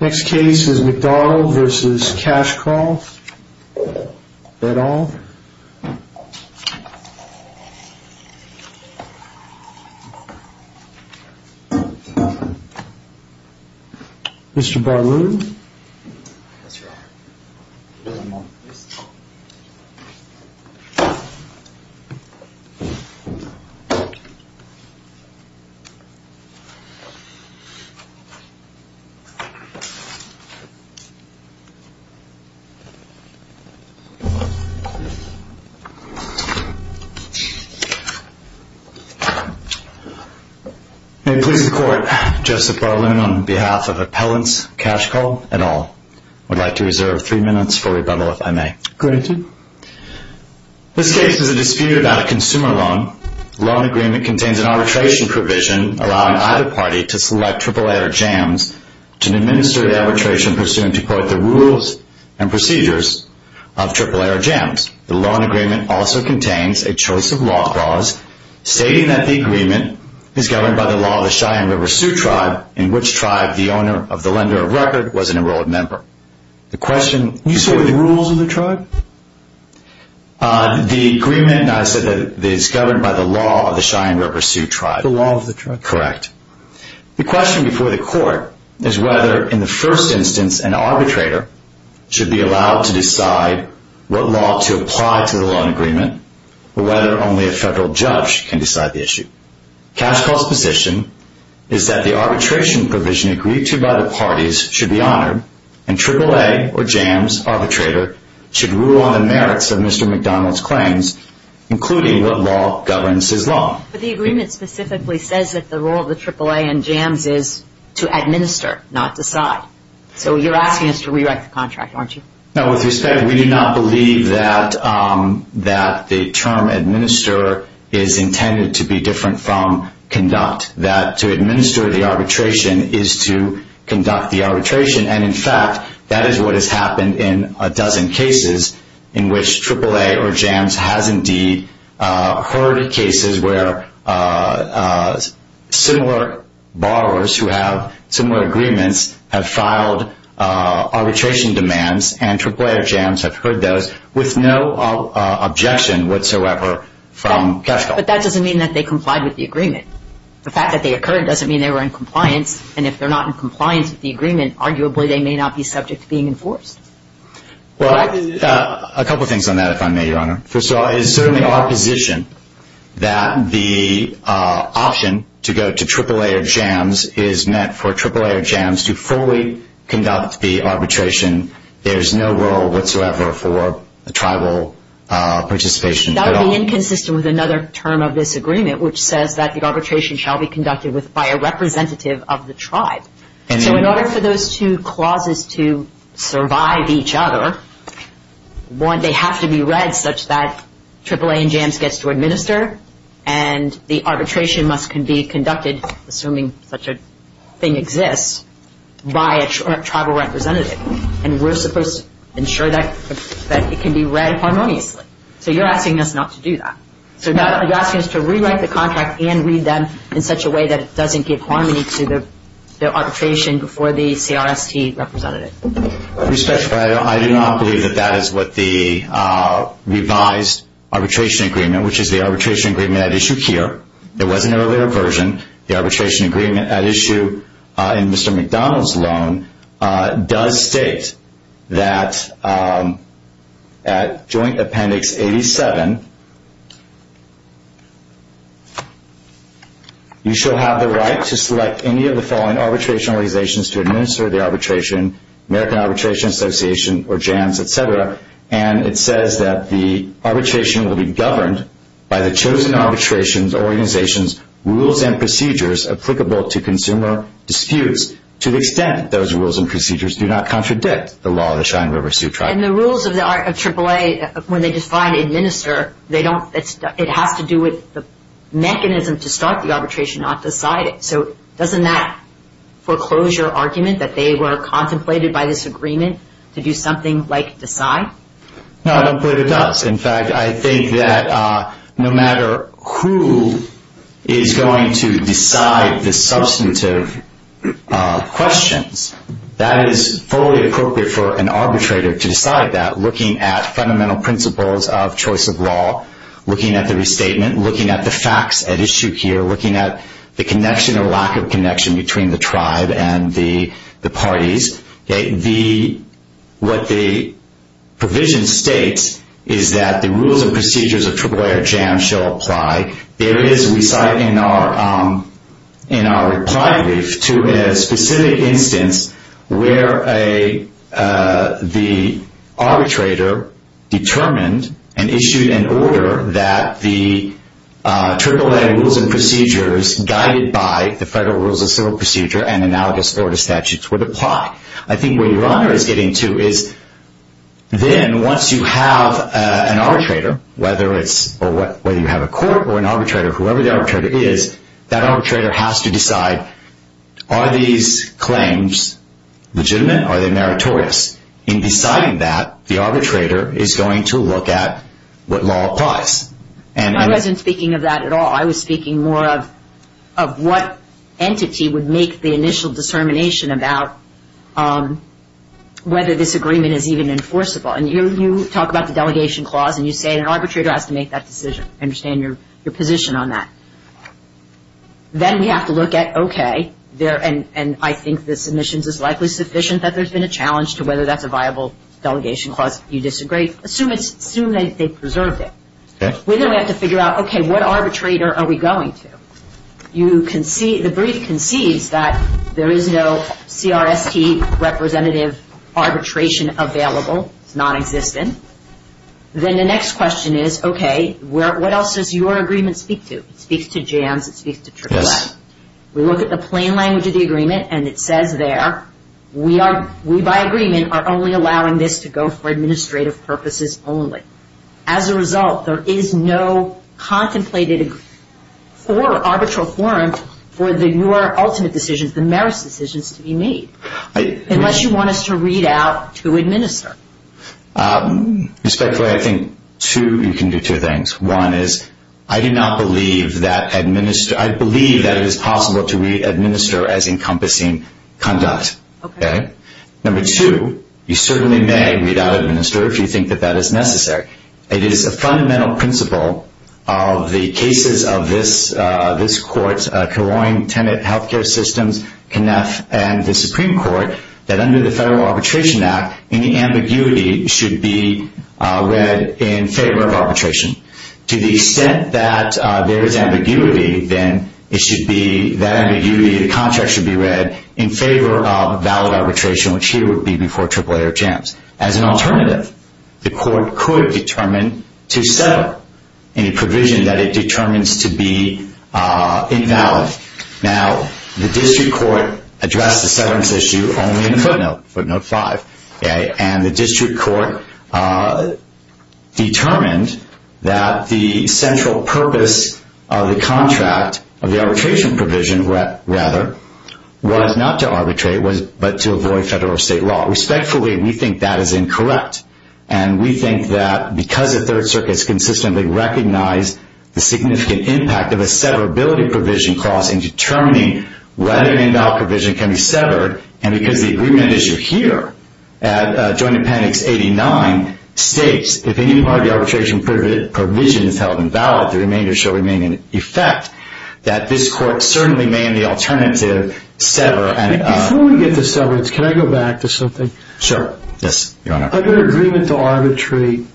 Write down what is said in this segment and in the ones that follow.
Next case is McDonald v. Cashcall Bet all Mr. Barlow May it please the court, Joseph Barlow on behalf of Appellants, Cashcall and all would like to reserve three minutes for rebuttal if I may. Granted. This case is a dispute about a consumer loan. The loan agreement contains an arbitration provision allowing either party to select AAA or JAMS to administer the arbitration pursuant to, quote, the rules and procedures of AAA or JAMS. The loan agreement also contains a choice of law clause stating that the agreement is governed by the law of the Cheyenne River Sioux Tribe in which tribe the owner of the lender of record was an enrolled member. You said the rules of the tribe? The agreement is governed by the law of the Cheyenne River Sioux Tribe. The law of the tribe. Correct. The question before the court is whether in the first instance an arbitrator should be allowed to decide what law to apply to the loan agreement or whether only a federal judge can decide the issue. Cashcall's position is that the arbitration provision agreed to by the parties should be honored and AAA or JAMS arbitrator should rule on the merits of Mr. McDonald's claims including what law governs his law. But the agreement specifically says that the role of the AAA and JAMS is to administer, not decide. So you're asking us to rewrite the contract, aren't you? No. With respect, we do not believe that the term administer is intended to be different from conduct, that to administer the arbitration is to conduct the arbitration. And in fact, that is what has happened in a dozen cases in which AAA or JAMS has indeed heard cases where similar borrowers who have similar agreements have filed arbitration demands and AAA or JAMS have heard those with no objection whatsoever from cash call. But that doesn't mean that they complied with the agreement. The fact that they occurred doesn't mean they were in compliance. And if they're not in compliance with the agreement, arguably they may not be subject to being enforced. Well, a couple of things on that, if I may, Your Honor. First of all, it is certainly our position that the option to go to AAA or JAMS is meant for AAA or JAMS to fully conduct the arbitration. There's no role whatsoever for tribal participation at all. That would be inconsistent with another term of this agreement, which says that the arbitration shall be conducted by a representative of the tribe. So in order for those two clauses to survive each other, they have to be read such that AAA and JAMS gets to administer and the arbitration must be conducted, assuming such a thing exists, by a tribal representative. And we're supposed to ensure that it can be read harmoniously. So you're asking us not to do that. You're asking us to rewrite the contract and read them in such a way that it doesn't give harmony to the arbitration before the CRST representative. Respectfully, I do not believe that that is what the revised arbitration agreement, which is the arbitration agreement at issue here. It was an earlier version. The arbitration agreement at issue in Mr. McDonald's loan does state that at Joint Appendix 87, you shall have the right to select any of the following arbitration organizations to administer the arbitration, American Arbitration Association or JAMS, et cetera. And it says that the arbitration will be governed by the chosen arbitration organization's rules and procedures applicable to consumer disputes to the extent those rules and procedures do not contradict the law of the Cheyenne River Sioux Tribe. And the rules of AAA, when they define administer, it has to do with the mechanism to start the arbitration, not decide it. So doesn't that foreclose your argument that they were contemplated by this agreement to do something like decide? No, I don't believe it does. In fact, I think that no matter who is going to decide the substantive questions, that is fully appropriate for an arbitrator to decide that, looking at fundamental principles of choice of law, looking at the restatement, looking at the facts at issue here, looking at the connection or lack of connection between the tribe and the parties. What the provision states is that the rules and procedures of AAA or JAMS shall apply. There is, we cite in our reply brief, to a specific instance where the arbitrator determined and issued an order that the AAA rules and procedures guided by the Federal Rules of Civil Procedure and analogous Florida statutes would apply. I think where your honor is getting to is then once you have an arbitrator, whether you have a court or an arbitrator, whoever the arbitrator is, that arbitrator has to decide, are these claims legitimate? Are they meritorious? In deciding that, the arbitrator is going to look at what law applies. I wasn't speaking of that at all. I was speaking more of what entity would make the initial determination about whether this agreement is even enforceable. And you talk about the delegation clause and you say an arbitrator has to make that decision. I understand your position on that. Then we have to look at, okay, and I think the submissions is likely sufficient that there's been a challenge to whether that's a viable delegation clause. If you disagree, assume they preserved it. Then we have to figure out, okay, what arbitrator are we going to? The brief concedes that there is no CRST representative arbitration available. It's nonexistent. Then the next question is, okay, what else does your agreement speak to? It speaks to JAMS. It speaks to AAA. Yes. We look at the plain language of the agreement and it says there, we by agreement are only allowing this to go for administrative purposes only. As a result, there is no contemplated or arbitral forum for your ultimate decisions, the merits decisions, to be made. Unless you want us to read out to administer. Respectfully, I think you can do two things. One is, I do not believe that administer. I believe that it is possible to read administer as encompassing conduct. Okay. Number two, you certainly may read out administer if you think that that is necessary. It is a fundamental principle of the cases of this court, Caroin Tenant Healthcare Systems, and the Supreme Court that under the Federal Arbitration Act, any ambiguity should be read in favor of arbitration. To the extent that there is ambiguity, then it should be, that ambiguity, the contract should be read in favor of valid arbitration, which here would be before AAA or JAMS. As an alternative, the court could determine to settle any provision that it determines to be invalid. Now, the district court addressed the severance issue only in footnote five. And the district court determined that the central purpose of the contract, of the arbitration provision, rather, was not to arbitrate, but to avoid federal or state law. Respectfully, we think that is incorrect. And we think that because the Third Circuit has consistently recognized the significant impact of a severability provision clause in determining whether an invalid provision can be severed, and because the agreement issue here at Joint Appendix 89 states, if any part of the arbitration provision is held invalid, the remainder shall remain in effect, that this court certainly may, in the alternative, sever. Before we get to severance, can I go back to something? Sure. Yes, Your Honor. Under agreement to arbitrate,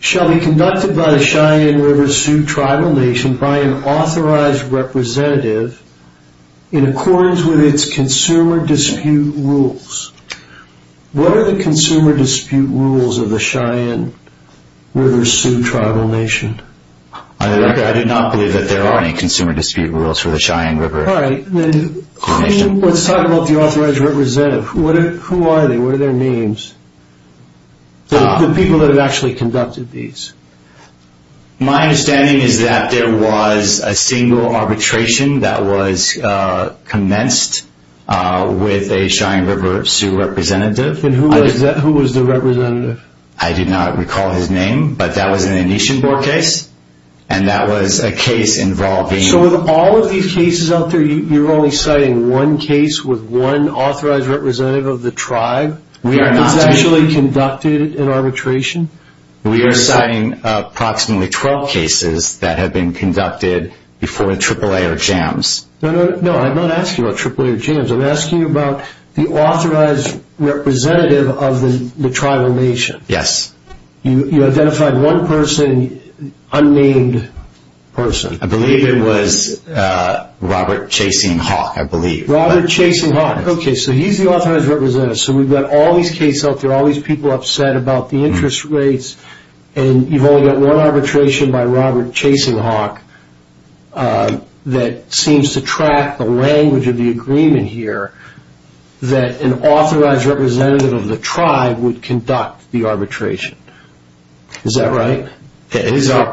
shall be conducted by the Cheyenne River Sioux Tribal Nation by an authorized representative in accordance with its consumer dispute rules. What are the consumer dispute rules of the Cheyenne River Sioux Tribal Nation? I did not believe that there are any consumer dispute rules for the Cheyenne River Sioux Nation. All right. Let's talk about the authorized representative. Who are they? What are their names? The people that have actually conducted these. My understanding is that there was a single arbitration that was commenced with a Cheyenne River Sioux representative. And who was the representative? I did not recall his name, but that was an Anishinabur case, and that was a case involving So with all of these cases out there, you're only citing one case with one authorized representative of the tribe? We are not. That's actually conducted in arbitration? We are citing approximately 12 cases that have been conducted before the AAA or JAMS. No, I'm not asking about AAA or JAMS. I'm asking about the authorized representative of the tribal nation. Yes. You identified one person, unnamed person. I believe it was Robert Chasing Hawk, I believe. Robert Chasing Hawk. Okay, so he's the authorized representative. So we've got all these cases out there, all these people upset about the interest rates, and you've only got one arbitration by Robert Chasing Hawk that seems to track the language of the agreement here that an authorized representative of the tribe would conduct the arbitration. Is that right? It is our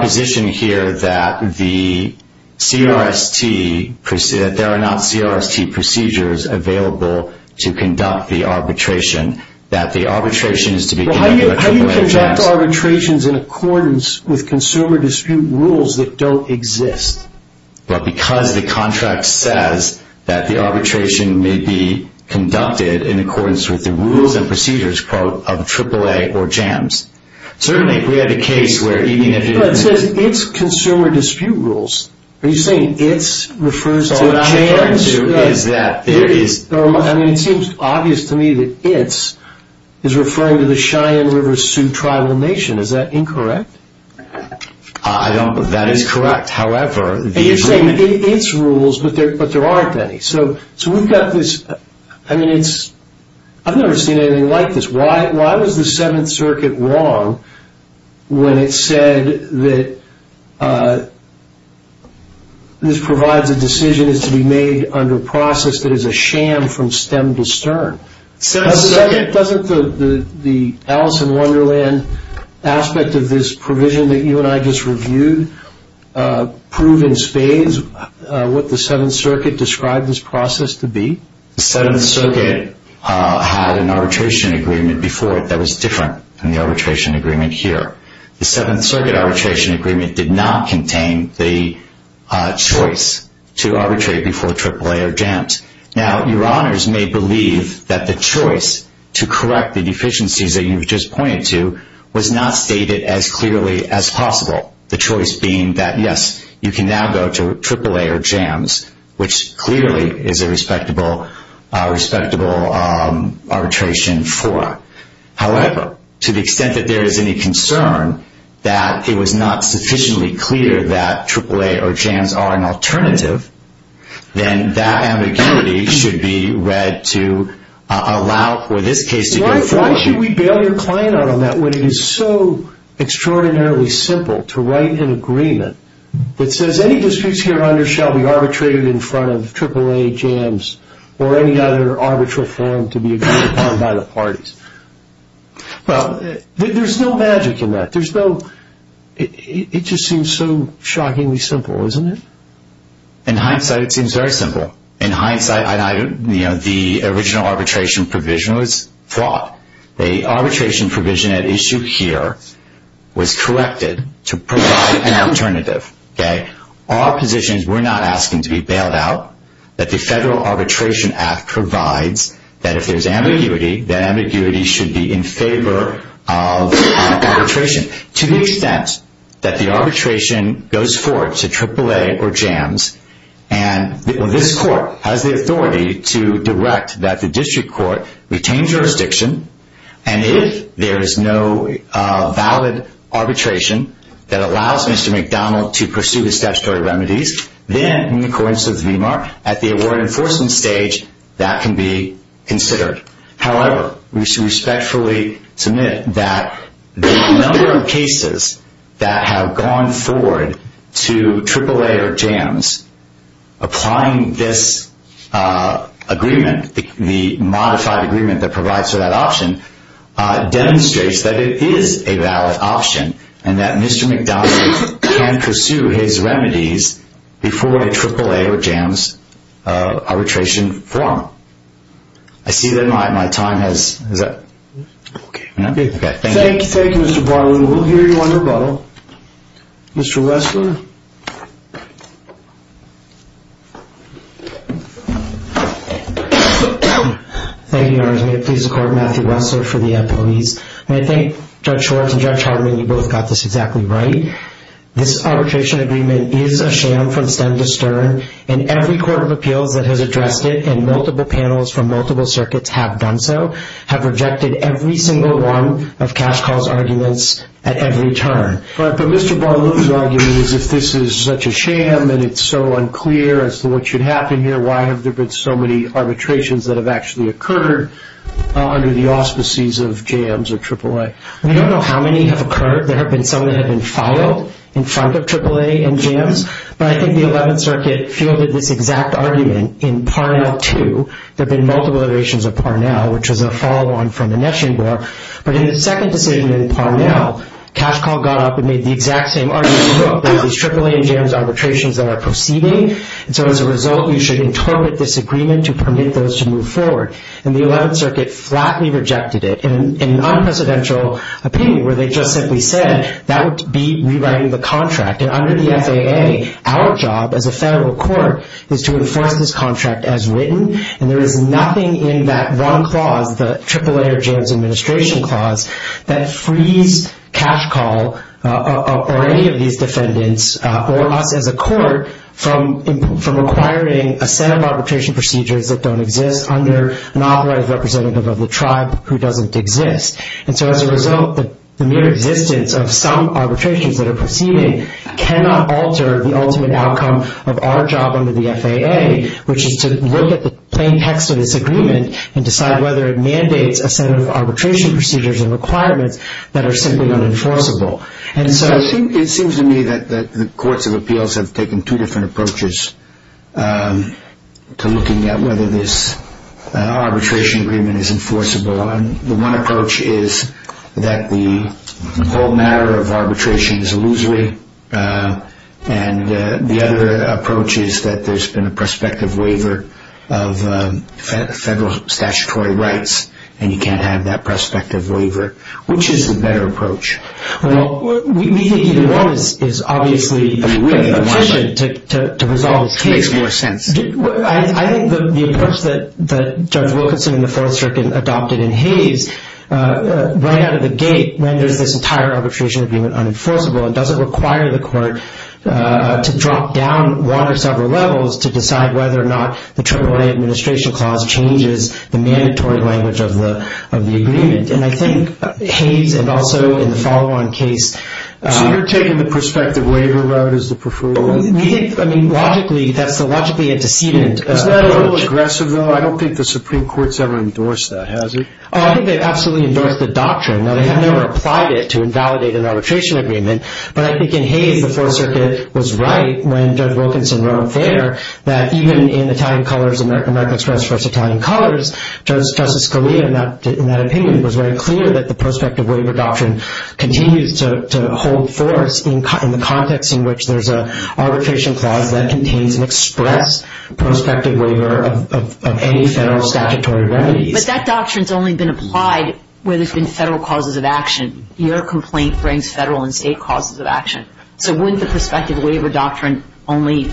position here that there are not CRST procedures available to conduct the arbitration, that the arbitration is to be conducted by AAA or JAMS. How do you conduct arbitrations in accordance with consumer dispute rules that don't exist? Because the contract says that the arbitration may be conducted in accordance with the rules and procedures of AAA or JAMS. Certainly, if we had a case where even if it didn't exist. It says it's consumer dispute rules. Are you saying it's refers to JAMS? So what I'm referring to is that there is. I mean, it seems obvious to me that it's is referring to the Cheyenne River Sioux Tribal Nation. Is that incorrect? I don't, that is correct. However, the agreement. You're saying it's rules, but there aren't any. So we've got this, I mean, it's, I've never seen anything like this. Why was the Seventh Circuit wrong when it said that this provides a decision is to be made under process that is a sham from stem to stern? Doesn't the Alice in Wonderland aspect of this provision that you and I just reviewed prove in spades what the Seventh Circuit described this process to be? The Seventh Circuit had an arbitration agreement before it that was different than the arbitration agreement here. The Seventh Circuit arbitration agreement did not contain the choice to arbitrate before AAA or JAMS. Now, your honors may believe that the choice to correct the deficiencies that you've just pointed to was not stated as clearly as possible. The choice being that, yes, you can now go to AAA or JAMS, which clearly is a respectable arbitration for. However, to the extent that there is any concern that it was not sufficiently clear that AAA or JAMS are an alternative, then that ambiguity should be read to allow for this case to go forward. Why should we bail your client out on that when it is so extraordinarily simple to write an agreement that says any disputes hereon shall be arbitrated in front of AAA, JAMS, or any other arbitral firm to be agreed upon by the parties? Well, there's no magic in that. It just seems so shockingly simple, isn't it? In hindsight, it seems very simple. In hindsight, the original arbitration provision was flawed. The arbitration provision at issue here was corrected to provide an alternative. Our position is we're not asking to be bailed out. The Federal Arbitration Act provides that if there's ambiguity, that ambiguity should be in favor of arbitration. To the extent that the arbitration goes forward to AAA or JAMS, and this court has the authority to direct that the district court retain jurisdiction, and if there is no valid arbitration that allows Mr. McDonald to pursue his statutory remedies, then, in accordance with the VMAR, at the award enforcement stage, that can be considered. However, we should respectfully submit that the number of cases that have gone forward to AAA or JAMS applying this agreement, the modified agreement that provides for that option, demonstrates that it is a valid option and that Mr. McDonald can pursue his remedies before a AAA or JAMS arbitration forum. I see that my time has... Okay. Thank you. Thank you, Mr. Barlow. We'll hear you on rebuttal. Mr. Wessler. Thank you, Your Honors. May it please the Court, Matthew Wessler for the employees. May I thank Judge Schwartz and Judge Hardiman. You both got this exactly right. This arbitration agreement is a sham from stem to stern, and every court of appeals that has addressed it, and multiple panels from multiple circuits have done so, have rejected every single one of Cash Call's arguments at every turn. But Mr. Barlow's argument is if this is such a sham and it's so unclear as to what should happen here, why have there been so many arbitrations that have actually occurred under the auspices of JAMS or AAA? We don't know how many have occurred. There have been some that have been filed in front of AAA and JAMS, but I think the 11th Circuit fielded this exact argument in Parnell 2. There have been multiple iterations of Parnell, which was a follow-on from the Neshing Bar. But in the second decision in Parnell, Cash Call got up and made the exact same argument that these AAA and JAMS arbitrations that are proceeding. And so as a result, we should interpret this agreement to permit those to move forward. And the 11th Circuit flatly rejected it in an unprecedented opinion where they just simply said that would be rewriting the contract. And under the FAA, our job as a federal court is to enforce this contract as written. And there is nothing in that one clause, the AAA or JAMS administration clause, that frees Cash Call or any of these defendants or us as a court from requiring a set of arbitration procedures that don't exist under an authoritative representative of the tribe who doesn't exist. And so as a result, the mere existence of some arbitrations that are proceeding cannot alter the ultimate outcome of our job under the FAA, which is to look at the plain text of this agreement and decide whether it mandates a set of arbitration procedures and requirements that are simply unenforceable. And so it seems to me that the courts of appeals have taken two different approaches to looking at whether this arbitration agreement is enforceable. And the one approach is that the whole matter of arbitration is illusory. And the other approach is that there's been a prospective waiver of federal statutory rights, and you can't have that prospective waiver. Which is the better approach? Well, we think either one is obviously a good decision to resolve this case. It makes more sense. I think the approach that Judge Wilkinson in the Fourth Circuit adopted in Hays, right out of the gate, renders this entire arbitration agreement unenforceable and doesn't require the court to drop down one or several levels to decide whether or not the AAA administration clause changes the mandatory language of the agreement. And I think Hays and also in the follow-on case— So you're taking the prospective waiver route as the preferred one? We think, I mean, logically, that's logically a decedent approach. Isn't that a little aggressive, though? I don't think the Supreme Court's ever endorsed that, has it? Oh, I think they've absolutely endorsed the doctrine. Now, they have never applied it to invalidate an arbitration agreement, but I think in Hays the Fourth Circuit was right when Judge Wilkinson wrote a letter that even in Italian colors, American Express versus Italian Colors, Justice Scalia, in that opinion, was very clear that the prospective waiver doctrine continues to hold force in the context in which there's an arbitration clause that contains an express prospective waiver of any federal statutory remedies. But that doctrine's only been applied where there's been federal causes of action. So wouldn't the prospective waiver doctrine only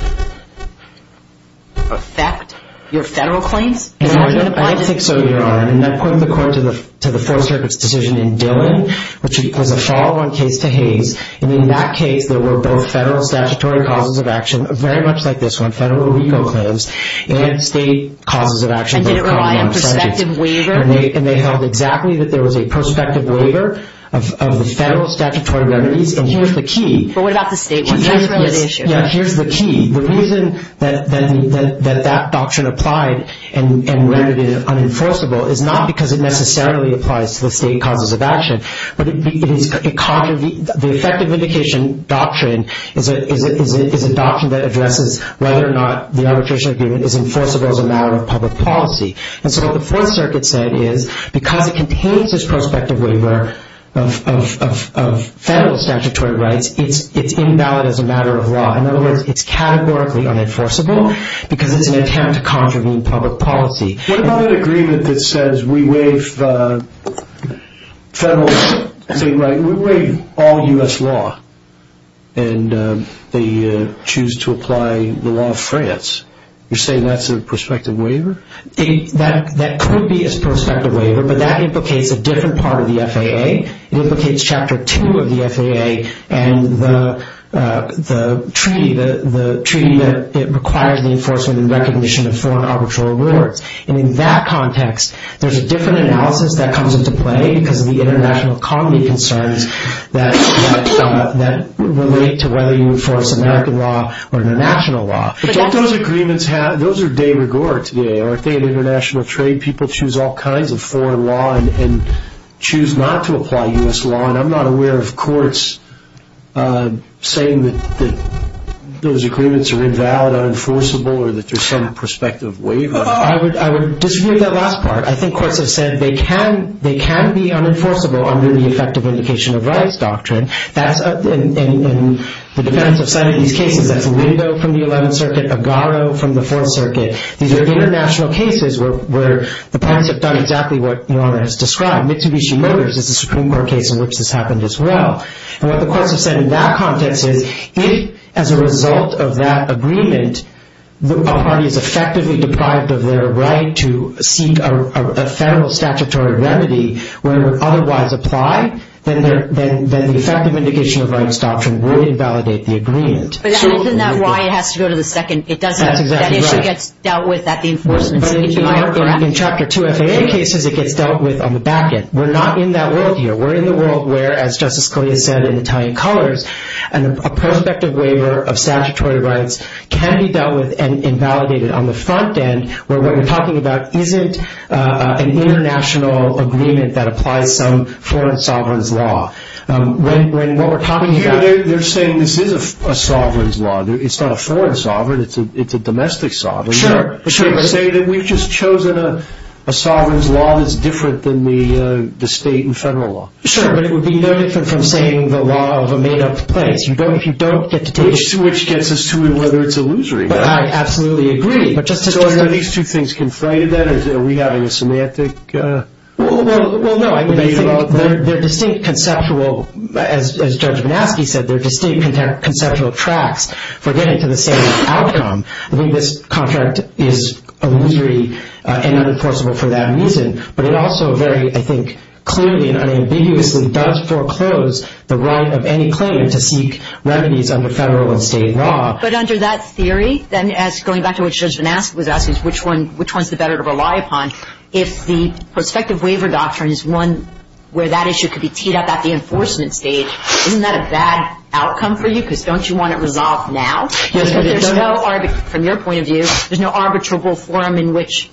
affect your federal claims? I don't think so, Your Honor. And I pointed the court to the Fourth Circuit's decision in Dillon, which was a follow-on case to Hays, and in that case there were both federal statutory causes of action, very much like this one, federal legal claims, and state causes of action. And did it rely on prospective waiver? And they held exactly that there was a prospective waiver of the federal statutory remedies. And here's the key. But what about the state ones? That's really the issue. Yeah, here's the key. The reason that that doctrine applied and rendered it unenforceable is not because it necessarily applies to the state causes of action, but the effective mitigation doctrine is a doctrine that addresses whether or not the arbitration agreement is enforceable as a matter of public policy. And so what the Fourth Circuit said is because it contains this prospective waiver of federal statutory rights, it's invalid as a matter of law. In other words, it's categorically unenforceable because it's an attempt to contravene public policy. What about an agreement that says we waive federal state rights, we waive all U.S. law, and they choose to apply the law of France? You're saying that's a prospective waiver? That could be a prospective waiver, but that implicates a different part of the FAA. It implicates Chapter 2 of the FAA and the treaty that requires the enforcement and recognition of foreign arbitral awards. And in that context, there's a different analysis that comes into play because of the international economy concerns that relate to whether you enforce American law or international law. But don't those agreements have – those are de rigueur to the FAA, aren't they? In international trade, people choose all kinds of foreign law and choose not to apply U.S. law, and I'm not aware of courts saying that those agreements are invalid, unenforceable, or that there's some prospective waiver. I would disagree with that last part. I think courts have said they can be unenforceable under the effective mitigation of rights doctrine. In the defense of some of these cases, that's Lindo from the 11th Circuit, Agaro from the 4th Circuit. These are international cases where the parties have done exactly what Norma has described. Mitsubishi Motors is a Supreme Court case in which this happened as well. And what the courts have said in that context is if, as a result of that agreement, a party is effectively deprived of their right to seek a federal statutory remedy where it would otherwise apply, then the effective mitigation of rights doctrine would invalidate the agreement. But isn't that why it has to go to the second – it doesn't – that issue gets dealt with at the enforcement stage? In Chapter 2 FAA cases, it gets dealt with on the back end. We're not in that world here. We're in the world where, as Justice Scalia said in Italian Colors, a prospective waiver of statutory rights can be dealt with and invalidated on the front end where what we're talking about isn't an international agreement that applies some foreign sovereign's law. When what we're talking about – They're saying this is a sovereign's law. It's not a foreign sovereign. It's a domestic sovereign. Sure. They say that we've just chosen a sovereign's law that's different than the state and federal law. Sure, but it would be no different from saying the law of a made-up place. If you don't get to take – Which gets us to whether it's illusory. I absolutely agree. So are these two things conflated then? Are we having a semantic debate about that? Well, no. I think they're distinct conceptual – as Judge Vanaski said, they're distinct conceptual tracks for getting to the same outcome. I think this contract is illusory and unenforceable for that reason, but it also very, I think, clearly and unambiguously does foreclose the right of any claimant to seek remedies under federal and state law. But under that theory, then as – going back to what Judge Vanaski was asking, which one's the better to rely upon, if the prospective waiver doctrine is one where that issue could be teed up at the enforcement stage, isn't that a bad outcome for you because don't you want it resolved now? Yes. If there's no – from your point of view, there's no arbitrable forum in which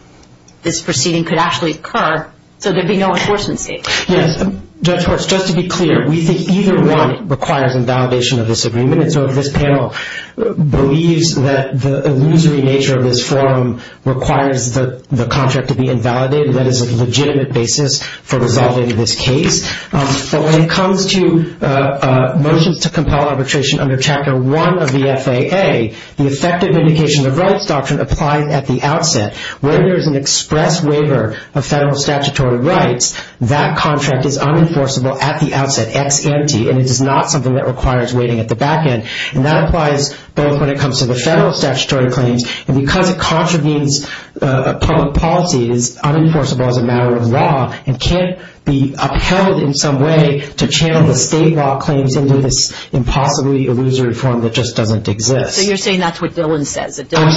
this proceeding could actually occur, so there'd be no enforcement stage. Yes. Judge Horst, just to be clear, we think either one requires invalidation of this agreement. So if this panel believes that the illusory nature of this forum requires the contract to be invalidated, that is a legitimate basis for resolving this case. But when it comes to motions to compel arbitration under Chapter 1 of the FAA, the effective indication of rights doctrine applies at the outset. When there's an express waiver of federal statutory rights, that contract is unenforceable at the outset, ex ante, and it is not something that requires waiting at the back end. And that applies both when it comes to the federal statutory claims, and because it contravenes public policy, it is unenforceable as a matter of law and can't be upheld in some way to channel the state law claims into this impossibly illusory forum that just doesn't exist. So you're saying that's what Dillon says, that Dillon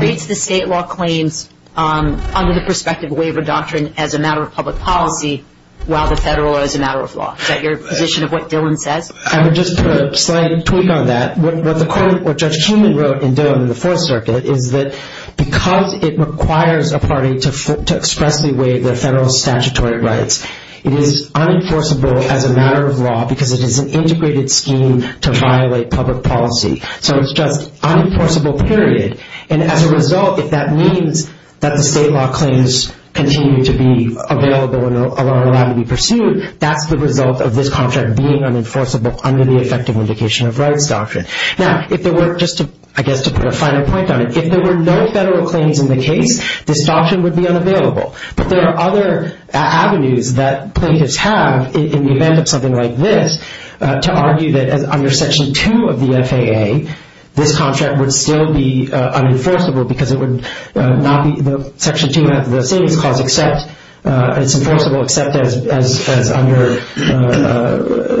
treats the state law claims under the prospective waiver doctrine as a matter of public policy while the federal is a matter of law. Is that your position of what Dillon says? I would just put a slight tweak on that. What Judge Truman wrote in Dillon in the Fourth Circuit is that because it requires a party to expressly waive their federal statutory rights, it is unenforceable as a matter of law because it is an integrated scheme to violate public policy. So it's just unenforceable, period. And as a result, if that means that the state law claims continue to be available and are allowed to be pursued, that's the result of this contract being unenforceable under the effective vindication of rights doctrine. Now, if there were, just I guess to put a final point on it, if there were no federal claims in the case, this doctrine would be unavailable. But there are other avenues that plaintiffs have in the event of something like this to argue that under Section 2 of the FAA, this contract would still be unenforceable because it would not be Section 2 of the Savings Clause except it's enforceable except as under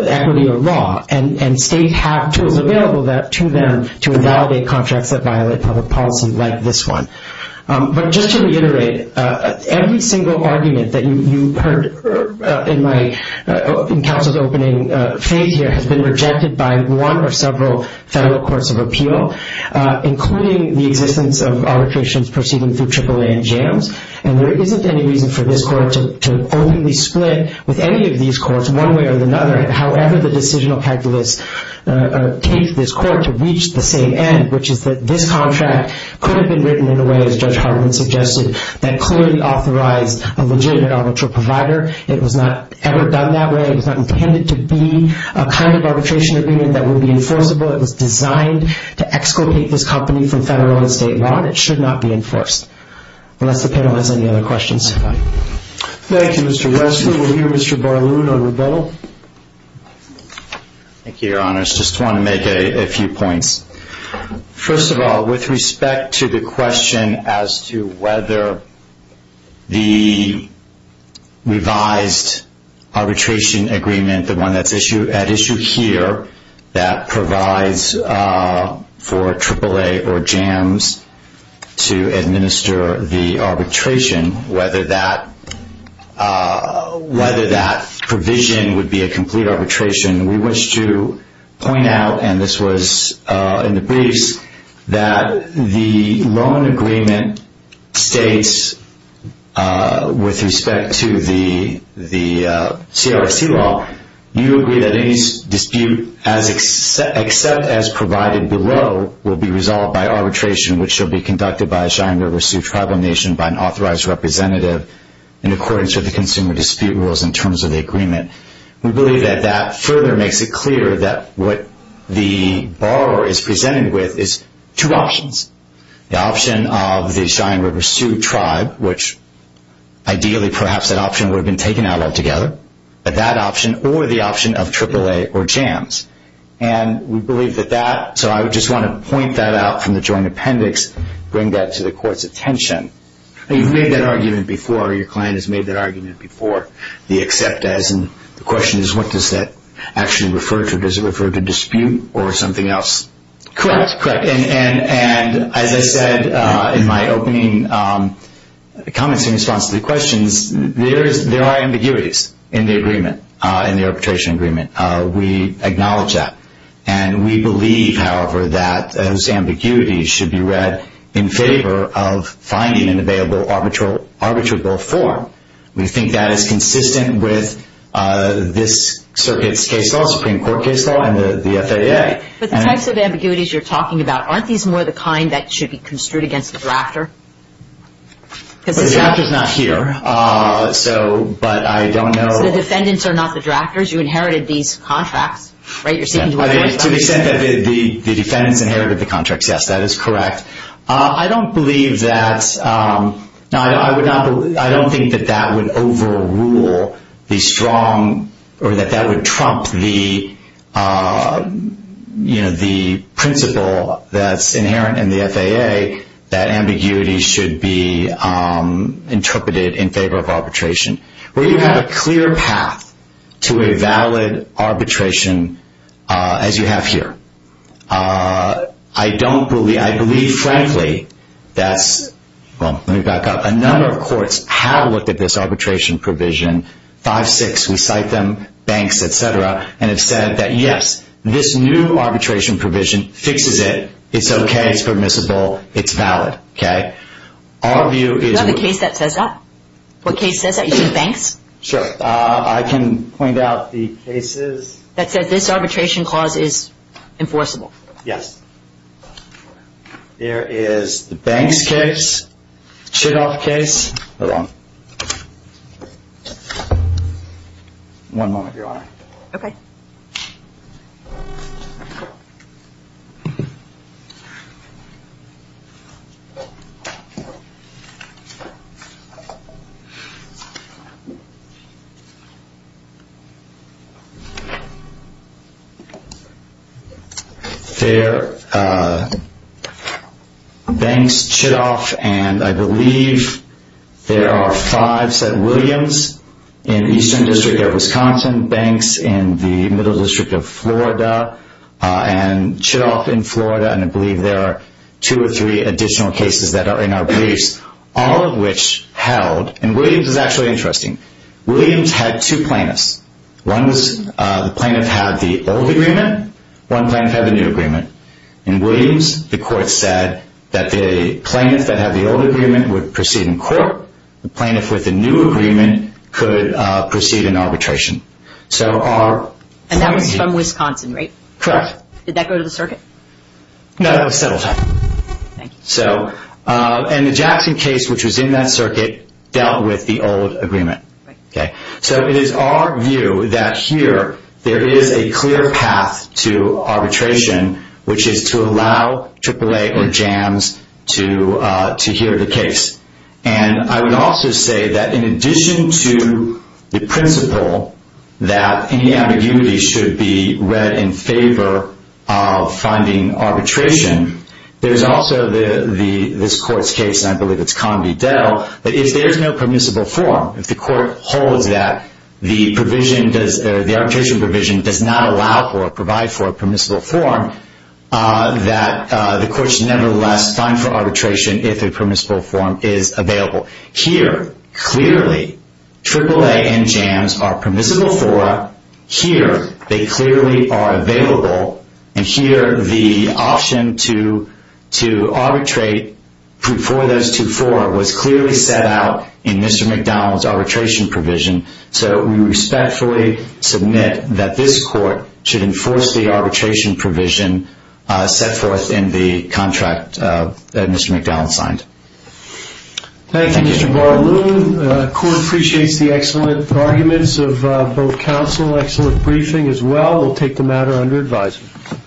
equity or law. And states have tools available to them to invalidate contracts that violate public policy like this one. But just to reiterate, every single argument that you heard in my council's opening phase here has been rejected by one or several federal courts of appeal, including the existence of arbitrations proceeding through AAA and JAMS. And there isn't any reason for this court to only be split with any of these courts one way or another, however the decisional calculus takes this court to reach the same end, which is that this contract could have been written in a way, as Judge Hartman suggested, that clearly authorized a legitimate arbitral provider. It was not ever done that way. It was not intended to be a kind of arbitration agreement that would be enforceable. It was designed to exculpate this company from federal and state law, and it should not be enforced. Unless the panel has any other questions. Thank you, Mr. Westley. We'll hear Mr. Barloon on rebuttal. Thank you, Your Honors. Just wanted to make a few points. First of all, with respect to the question as to whether the revised arbitration agreement, the one at issue here that provides for AAA or JAMS to administer the arbitration, whether that provision would be a complete arbitration, we wish to point out, and this was in the briefs, that the loan agreement states with respect to the CRRC law, you agree that any dispute except as provided below will be resolved by arbitration, which shall be conducted by a shiring of a sued tribal nation by an authorized representative in accordance with the consumer dispute rules in terms of the agreement. We believe that that further makes it clear that what the borrower is presented with is two options. The option of the shiring of a sued tribe, which ideally perhaps that option would have been taken out altogether, but that option or the option of AAA or JAMS. And we believe that that, so I just want to point that out from the joint appendix, bring that to the court's attention. You've made that argument before, or your client has made that argument before, the except as and the question is what does that actually refer to? Does it refer to dispute or something else? Correct. And as I said in my opening comments in response to the questions, there are ambiguities in the agreement, in the arbitration agreement. We acknowledge that. And we believe, however, that those ambiguities should be read in favor of finding an available arbitrable form. We think that is consistent with this circuit's case law, Supreme Court case law, and the FAA. But the types of ambiguities you're talking about, aren't these more the kind that should be construed against the drafter? The drafter's not here, but I don't know. So the defendants are not the drafters? You inherited these contracts, right? To the extent that the defendants inherited the contracts, yes, that is correct. I don't believe that, I don't think that that would overrule the strong, or that that would trump the principle that's inherent in the FAA, that ambiguity should be interpreted in favor of arbitration. We have a clear path to a valid arbitration as you have here. I don't believe, I believe frankly that's, well, let me back up. A number of courts have looked at this arbitration provision, 5-6, we cite them, banks, etc., and have said that yes, this new arbitration provision fixes it, it's okay, it's permissible, it's valid. Okay? Our view is- Is that the case that says that? What case says that? You mean banks? Sure. I can point out the cases- That says this arbitration clause is enforceable. Yes. There is the banks case, Chidoff case, hold on. One moment, Your Honor. Okay. Banks, Chidoff, and I believe there are five, said Williams, in Eastern District here in Wisconsin, banks in the Middle District of Florida, and Chidoff in Florida, and I believe there are two or three additional cases that are in our briefs, all of which held, and Williams is actually interesting. Williams had two plaintiffs. One was the plaintiff had the old agreement, one plaintiff had the new agreement. In Williams, the court said that the plaintiff that had the old agreement would proceed in court, the plaintiff with the new agreement could proceed in arbitration. So our- And that was from Wisconsin, right? Correct. Did that go to the circuit? No, that was settled. Thank you. And the Jackson case, which was in that circuit, dealt with the old agreement. Right. Okay. So it is our view that here there is a clear path to arbitration, which is to allow AAA or JAMS to hear the case. And I would also say that in addition to the principle that any ambiguity should be read in favor of finding arbitration, there's also this court's case, and I believe it's Convey-Dell, that if there's no permissible form, if the court holds that the arbitration provision does not allow for or provide for a permissible form, that the court is nevertheless fine for arbitration if a permissible form is available. Here, clearly, AAA and JAMS are permissible for. Here, they clearly are available. And here, the option to arbitrate for those two forms was clearly set out in Mr. McDowell's arbitration provision. So we respectfully submit that this court should enforce the arbitration provision set forth in the contract that Mr. McDowell signed. Thank you, Mr. Baraloon. The court appreciates the excellent arguments of both counsel, excellent briefing as well. We'll take the matter under advisement.